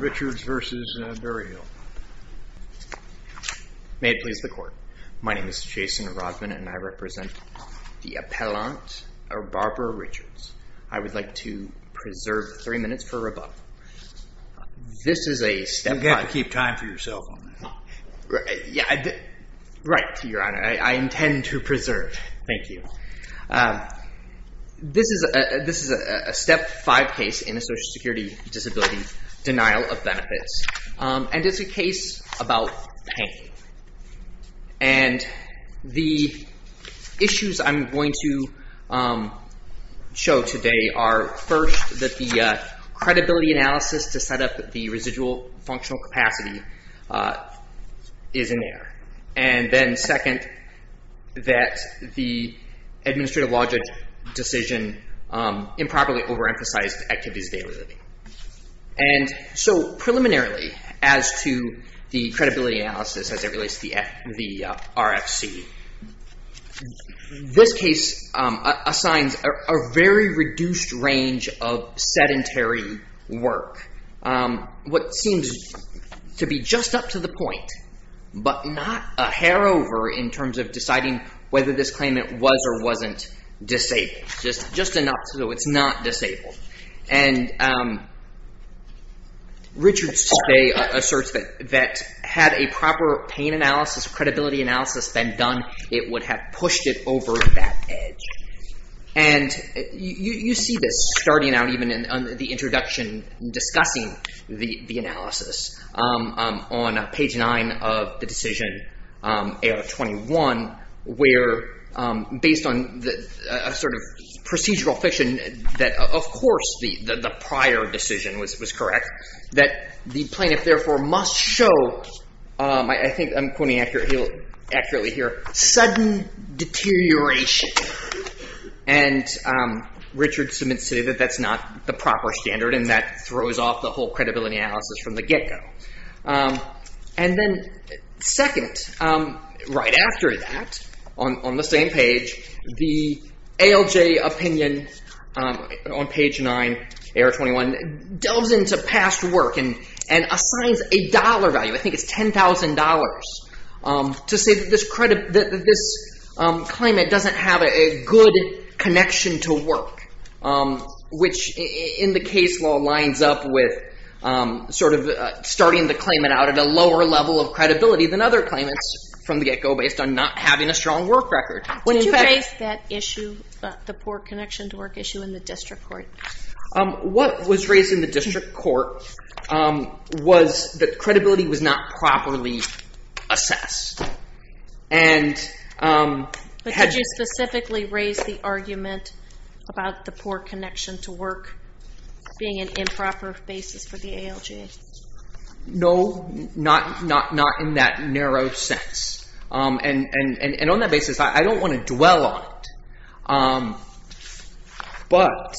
May it please the Court. My name is Jason Rodman and I represent the appellant Barbara Richards. I would like to preserve three minutes for rebuttal. You have to keep time for yourself on that. Right, Your Honor. I intend to preserve. Thank you. This is a step five case in a social security disability denial of benefits and it's a case about pain. And the issues I'm going to show today are first that the credibility analysis to set up the residual functional capacity is in error. And then second, that the administrative logic decision improperly overemphasized activities of daily living. And so preliminarily as to the credibility analysis as it relates to the RFC, this case assigns a very reduced range of sedentary work. What seems to be just up to the point but not a hair over in terms of deciding whether this claimant was or wasn't disabled. Just enough so it's not disabled. And Richards asserts that had a proper pain analysis, credibility analysis been done, it would have pushed it over that edge. And you see this starting out even in the introduction discussing the analysis on page nine of the decision 8 out of 21 where based on the sort of procedural fiction that of course the prior decision was correct. That the plaintiff therefore must show, I think I'm pointing accurately here, sudden deterioration. And Richards admits that that's not the proper standard and that throws off the whole credibility analysis from the get go. And then second, right after that on the same page, the ALJ opinion on page nine, error 21, delves into past work and assigns a dollar value, I think it's $10,000, to say that this claimant doesn't have a good connection to work. Which in the case law lines up with sort of starting the claimant out at a lower level of credibility than other claimants from the get go based on not having a strong work record. Did you raise that issue, the poor connection to work issue in the district court? What was raised in the district court was that credibility was not properly assessed. But did you specifically raise the argument about the poor connection to work being an improper basis for the ALJ? No, not in that narrow sense. And on that basis, I don't want to dwell on it. But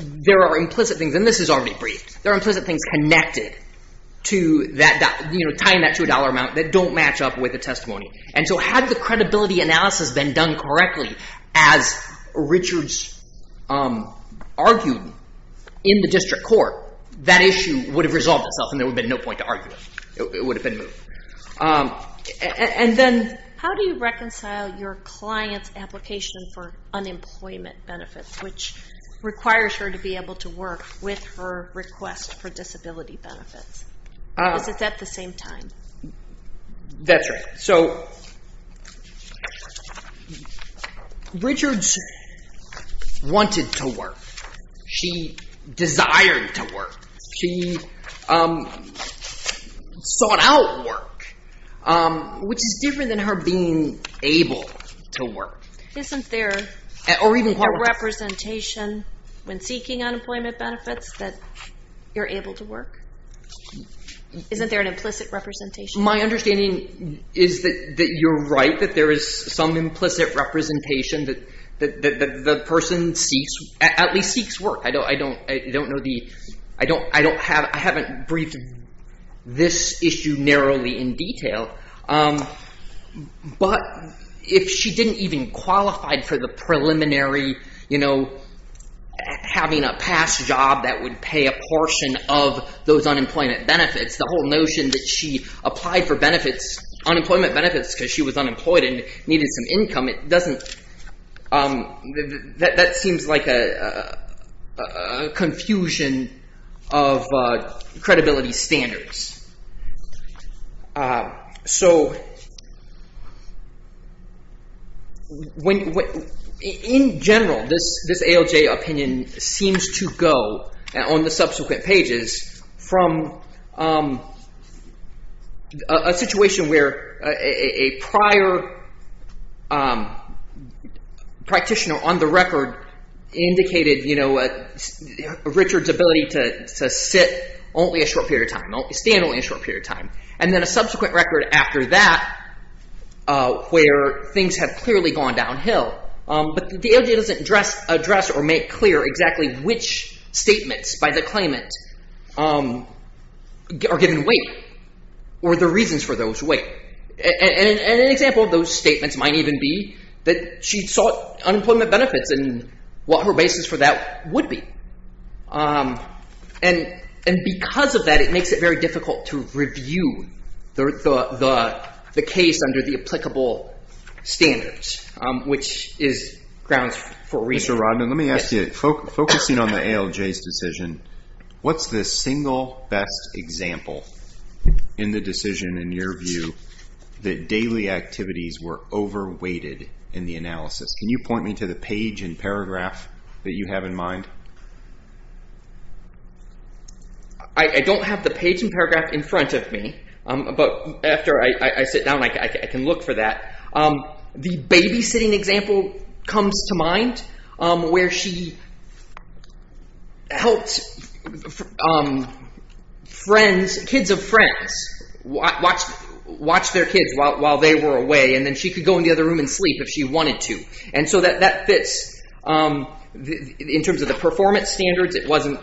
there are implicit things, and this is already briefed, there are implicit things connected to tying that to a dollar amount that don't match up with the testimony. And so had the credibility analysis been done correctly, as Richards argued in the district court, that issue would have resolved itself and there would have been no point to argue it. It would have been moved. And then how do you reconcile your client's application for unemployment benefits, which requires her to be able to work with her request for disability benefits? Because it's at the same time. That's right. So Richards wanted to work. She desired to work. She sought out work, which is different than her being able to work. Isn't there a representation when seeking unemployment benefits that you're able to work? Isn't there an implicit representation? My understanding is that you're right, that there is some implicit representation that the person at least seeks work. I haven't briefed this issue narrowly in detail. But if she didn't even qualify for the preliminary having a past job that would pay a portion of those unemployment benefits, the whole notion that she applied for benefits, unemployment benefits, because she was unemployed and needed some income, it doesn't – that seems like a confusion of credibility standards. So when – in general, this ALJ opinion seems to go on the subsequent pages from a situation where a prior practitioner on the record indicated Richard's ability to sit only a short period of time. Stand only a short period of time. And then a subsequent record after that where things have clearly gone downhill. But the ALJ doesn't address or make clear exactly which statements by the claimant are given weight or the reasons for those weight. And an example of those statements might even be that she sought unemployment benefits and what her basis for that would be. And because of that, it makes it very difficult to review the case under the applicable standards, which is grounds for – Mr. Rodman, let me ask you. Focusing on the ALJ's decision, what's the single best example in the decision in your view that daily activities were over-weighted in the analysis? Can you point me to the page and paragraph that you have in mind? I don't have the page and paragraph in front of me, but after I sit down, I can look for that. The babysitting example comes to mind where she helped kids of friends watch their kids while they were away. And then she could go in the other room and sleep if she wanted to. And so that fits in terms of the performance standards. It wasn't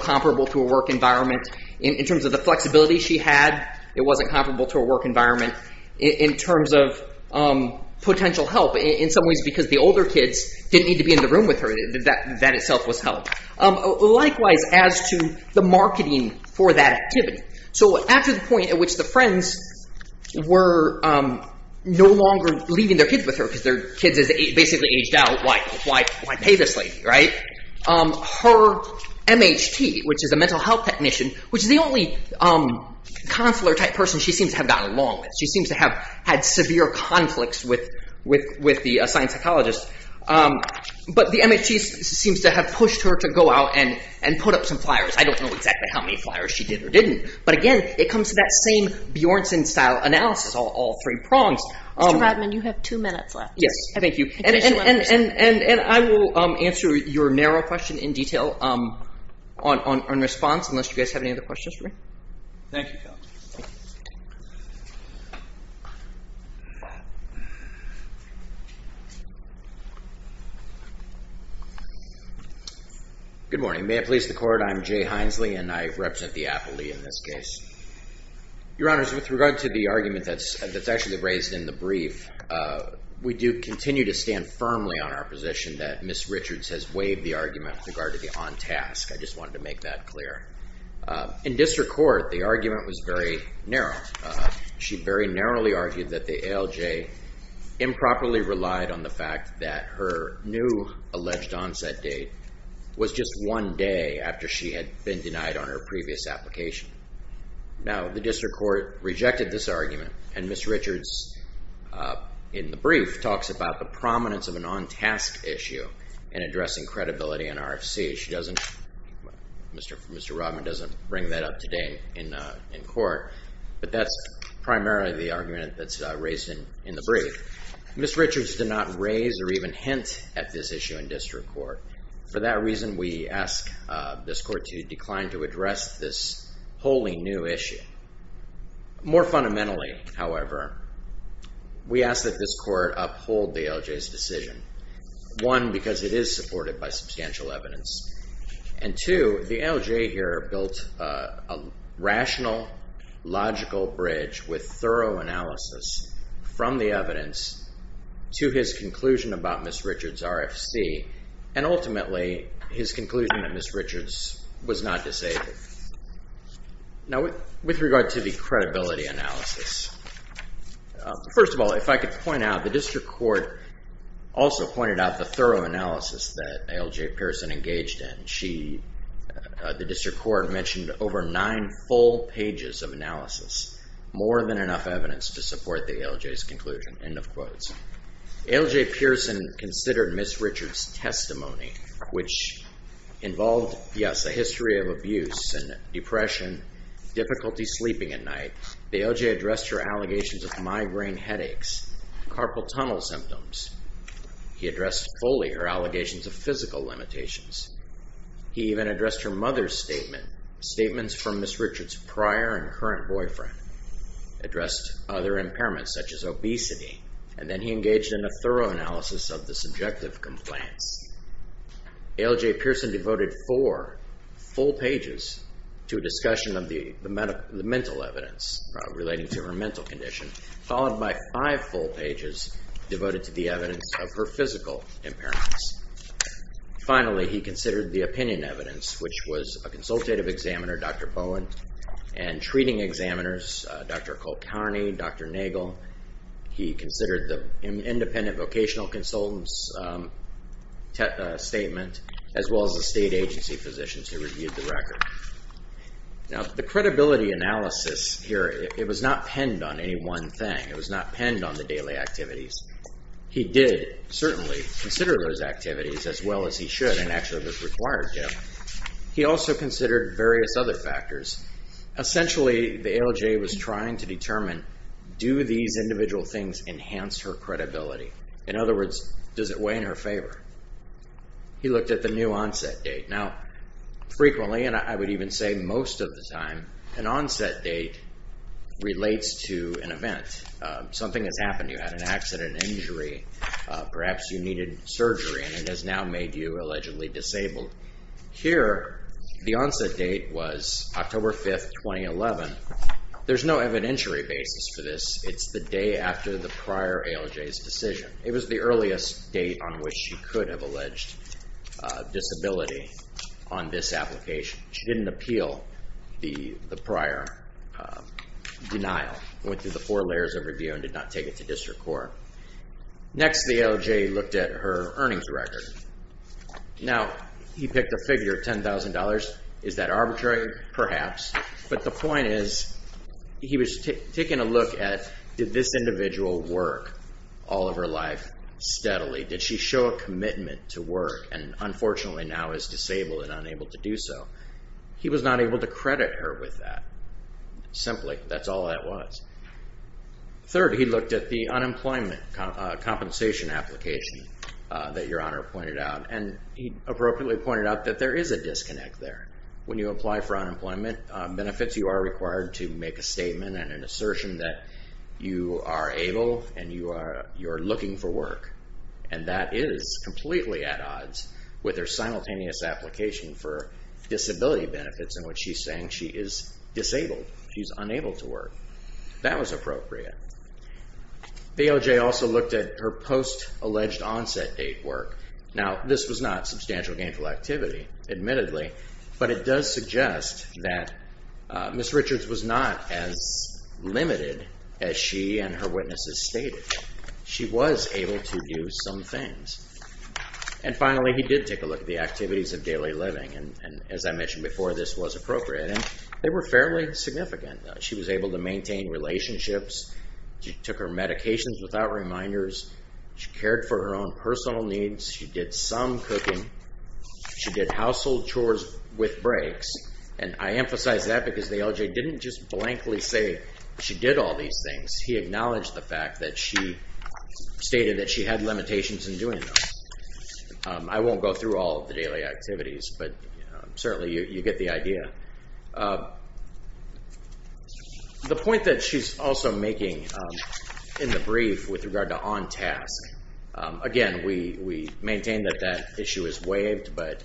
comparable to a work environment. In terms of the flexibility she had, it wasn't comparable to a work environment. In terms of potential help, in some ways because the older kids didn't need to be in the room with her, that itself was help. Likewise, as to the marketing for that activity. So after the point at which the friends were no longer leaving their kids with her because their kids had basically aged out, why pay this lady? Her M.H.T., which is a mental health technician, which is the only counselor-type person she seems to have gotten along with. She seems to have had severe conflicts with the assigned psychologist. But the M.H.T. seems to have pushed her to go out and put up some flyers. I don't know exactly how many flyers she did or didn't. But again, it comes to that same Bjornsson-style analysis, all three prongs. Mr. Rodman, you have two minutes left. Yes, thank you. And I will answer your narrow question in detail on response unless you guys have any other questions for me. Thank you, Kelly. Good morning. May it please the Court, I'm Jay Hinesley and I represent the appellee in this case. Your Honors, with regard to the argument that's actually raised in the brief, we do continue to stand firmly on our position that Ms. Richards has waived the argument with regard to the on-task. I just wanted to make that clear. In district court, the argument was very narrow. She very narrowly argued that the ALJ improperly relied on the fact that her new alleged onset date was just one day after she had been denied on her previous application. Now, the district court rejected this argument and Ms. Richards, in the brief, talks about the prominence of an on-task issue in addressing credibility in RFC. She doesn't, Mr. Rodman doesn't bring that up today in court, but that's primarily the argument that's raised in the brief. Ms. Richards did not raise or even hint at this issue in district court. For that reason, we ask this court to decline to address this wholly new issue. More fundamentally, however, we ask that this court uphold the ALJ's decision. One, because it is supported by substantial evidence, and two, the ALJ here built a rational, logical bridge with thorough analysis from the evidence to his conclusion about Ms. Richards' RFC, and ultimately, his conclusion that Ms. Richards was not disabled. Now, with regard to the credibility analysis, first of all, if I could point out, the district court also pointed out the thorough analysis that ALJ Pearson engaged in. She, the district court, mentioned over nine full pages of analysis, more than enough evidence to support the ALJ's conclusion, end of quotes. ALJ Pearson considered Ms. Richards' testimony, which involved, yes, a history of abuse and depression, difficulty sleeping at night. ALJ addressed her allegations of migraine headaches, carpal tunnel symptoms. He addressed fully her allegations of physical limitations. He even addressed her mother's statement, statements from Ms. Richards' prior and current boyfriend, addressed other impairments such as obesity, and then he engaged in a thorough analysis of the subjective complaints. ALJ Pearson devoted four full pages to a discussion of the mental evidence relating to her mental condition, followed by five full pages devoted to the evidence of her physical impairments. Finally, he considered the opinion evidence, which was a consultative examiner, Dr. Bowen, and treating examiners, Dr. Colcarni, Dr. Nagel. He considered the independent vocational consultant's statement, as well as the state agency physicians who reviewed the record. Now, the credibility analysis here, it was not penned on any one thing. It was not penned on the daily activities. He did certainly consider those activities as well as he should and actually was required to. He also considered various other factors. Essentially, the ALJ was trying to determine, do these individual things enhance her credibility? In other words, does it weigh in her favor? He looked at the new onset date. Now, frequently, and I would even say most of the time, an onset date relates to an event. Something has happened. You had an accident, injury. Perhaps you needed surgery and it has now made you allegedly disabled. Here, the onset date was October 5, 2011. There's no evidentiary basis for this. It's the day after the prior ALJ's decision. It was the earliest date on which she could have alleged disability on this application. She didn't appeal the prior denial. It went through the four layers of review and did not take it to district court. Next, the ALJ looked at her earnings record. Now, he picked a figure of $10,000. Is that arbitrary? Perhaps. But the point is, he was taking a look at, did this individual work all of her life steadily? Did she show a commitment to work and unfortunately now is disabled and unable to do so? He was not able to credit her with that. Simply, that's all that was. Third, he looked at the unemployment compensation application that Your Honor pointed out, and he appropriately pointed out that there is a disconnect there. When you apply for unemployment benefits, you are required to make a statement and an assertion that you are able and you are looking for work, and that is completely at odds with her simultaneous application for disability benefits in which she's saying she is disabled. She's unable to work. That was appropriate. The ALJ also looked at her post-alleged onset date work. Now, this was not substantial gainful activity, admittedly, but it does suggest that Ms. Richards was not as limited as she and her witnesses stated. She was able to do some things. And finally, he did take a look at the activities of daily living, and as I mentioned before, this was appropriate. They were fairly significant. She was able to maintain relationships. She took her medications without reminders. She cared for her own personal needs. She did some cooking. She did household chores with breaks, and I emphasize that because the ALJ didn't just blankly say she did all these things. He acknowledged the fact that she stated that she had limitations in doing those. I won't go through all of the daily activities, but certainly you get the idea. The point that she's also making in the brief with regard to on-task, again, we maintain that that issue is waived, but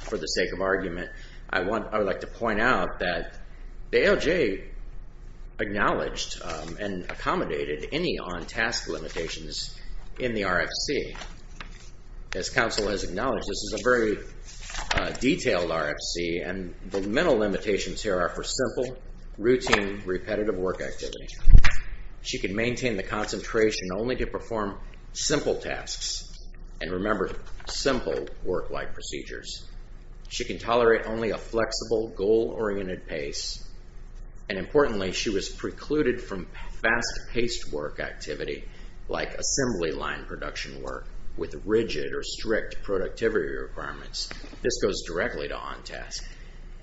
for the sake of argument, I would like to point out that the ALJ acknowledged and accommodated any on-task limitations in the RFC. As counsel has acknowledged, this is a very detailed RFC, and the mental limitations here are for simple, routine, repetitive work activity. She can maintain the concentration only to perform simple tasks and remember simple work-like procedures. She can tolerate only a flexible, goal-oriented pace, and importantly, she was precluded from fast-paced work activity like assembly line production work with rigid or strict productivity requirements. This goes directly to on-task,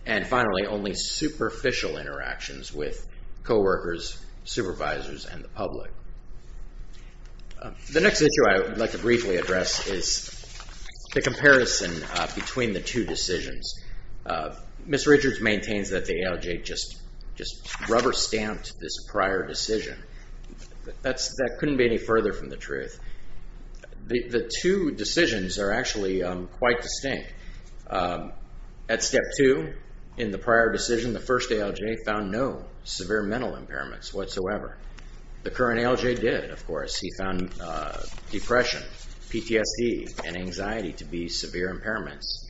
and finally, only superficial interactions with coworkers, supervisors, and the public. The next issue I would like to briefly address is the comparison between the two decisions. Ms. Richards maintains that the ALJ just rubber-stamped this prior decision. That couldn't be any further from the truth. The two decisions are actually quite distinct. At Step 2, in the prior decision, the first ALJ found no severe mental impairments whatsoever. The current ALJ did, of course. He found depression, PTSD, and anxiety to be severe impairments.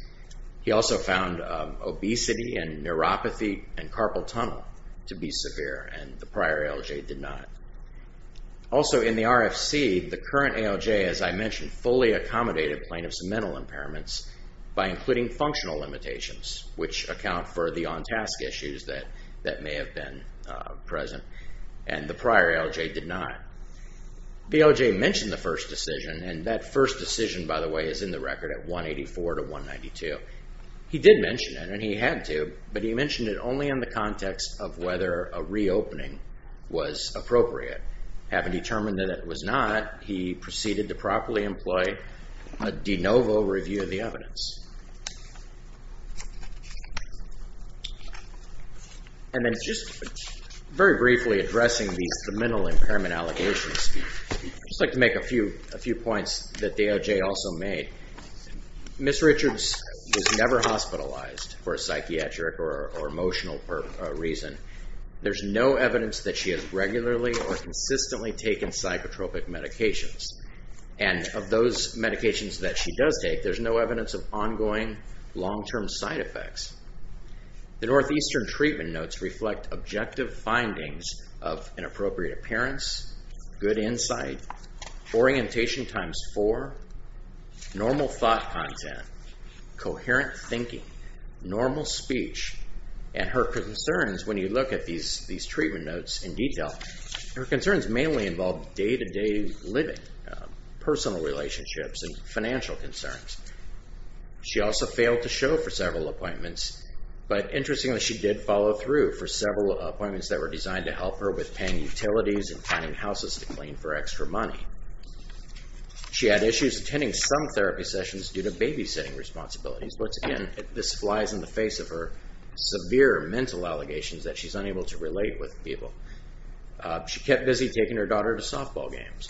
He also found obesity and neuropathy and carpal tunnel to be severe, and the prior ALJ did not. Also, in the RFC, the current ALJ, as I mentioned, fully accommodated plaintiff's mental impairments by including functional limitations, which account for the on-task issues that may have been present, and the prior ALJ did not. The ALJ mentioned the first decision, and that first decision, by the way, is in the record at 184 to 192. He did mention it, and he had to, but he mentioned it only in the context of whether a reopening was appropriate. Having determined that it was not, he proceeded to properly employ a de novo review of the evidence. And then just very briefly addressing these mental impairment allegations, I'd just like to make a few points that the ALJ also made. Ms. Richards was never hospitalized for a psychiatric or emotional reason. There's no evidence that she has regularly or consistently taken psychotropic medications, and of those medications that she does take, there's no evidence of ongoing long-term side effects. The Northeastern Treatment Notes reflect objective findings of an appropriate appearance, good insight, orientation times four, normal thought content, coherent thinking, normal speech, and her concerns, when you look at these treatment notes in detail, her concerns mainly involved day-to-day living, personal relationships, and financial concerns. She also failed to show for several appointments, but interestingly, she did follow through for several appointments that were designed to help her with paying utilities and finding houses to clean for extra money. She had issues attending some therapy sessions due to babysitting responsibilities. Once again, this flies in the face of her severe mental allegations that she's unable to relate with people. She kept busy taking her daughter to softball games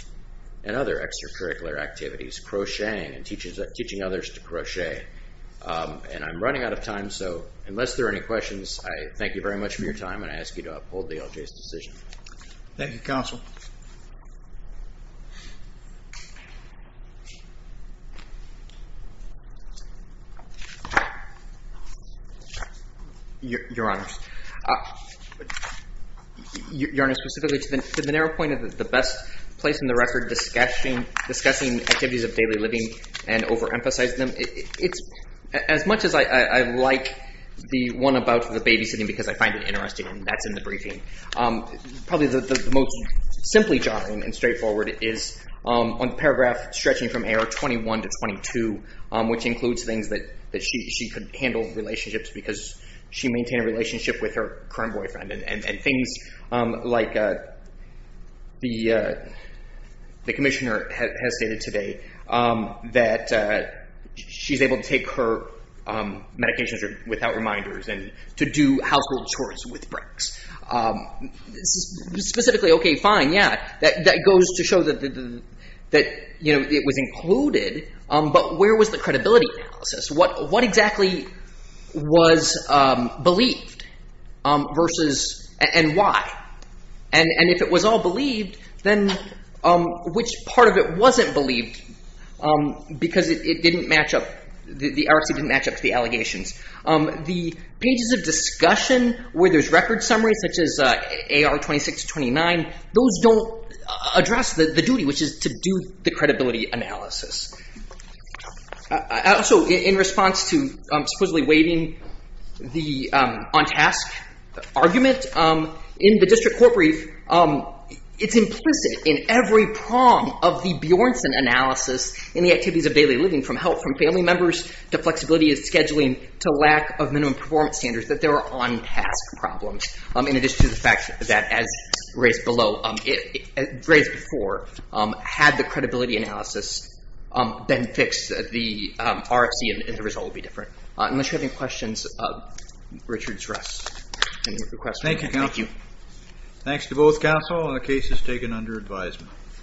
and other extracurricular activities, crocheting and teaching others to crochet. And I'm running out of time, so unless there are any questions, I thank you very much for your time, and I ask you to uphold the LJ's decision. Thank you, Counsel. Your Honor, specifically to the narrow point of the best place in the record discussing activities of daily living and overemphasizing them, as much as I like the one about the babysitting because I find it interesting, and that's in the briefing, probably the most simply jotted and straightforward is on paragraph stretching from error 21 to 22, which includes things that she could handle relationships because she maintained a relationship with her current boyfriend and things like the Commissioner has stated today that she's able to take her medications without reminders and to do household chores with breaks. Specifically, okay, fine, yeah, that goes to show that it was included, but where was the credibility analysis? What exactly was believed and why? And if it was all believed, then which part of it wasn't believed because it didn't match up, the RFC didn't match up to the allegations? The pages of discussion where there's record summaries, such as AR 26-29, those don't address the duty, which is to do the credibility analysis. Also, in response to supposedly waiving the on-task argument, in the district court brief, it's implicit in every prong of the Bjornsson analysis in the activities of daily living from health, from family members to flexibility of scheduling to lack of minimum performance standards that there are on-task problems in addition to the fact that as raised before, had the credibility analysis been fixed, the RFC and the result would be different. Unless you have any questions, Richard's rest. Thank you, counsel. Thanks to both counsel. The case is taken under advisement.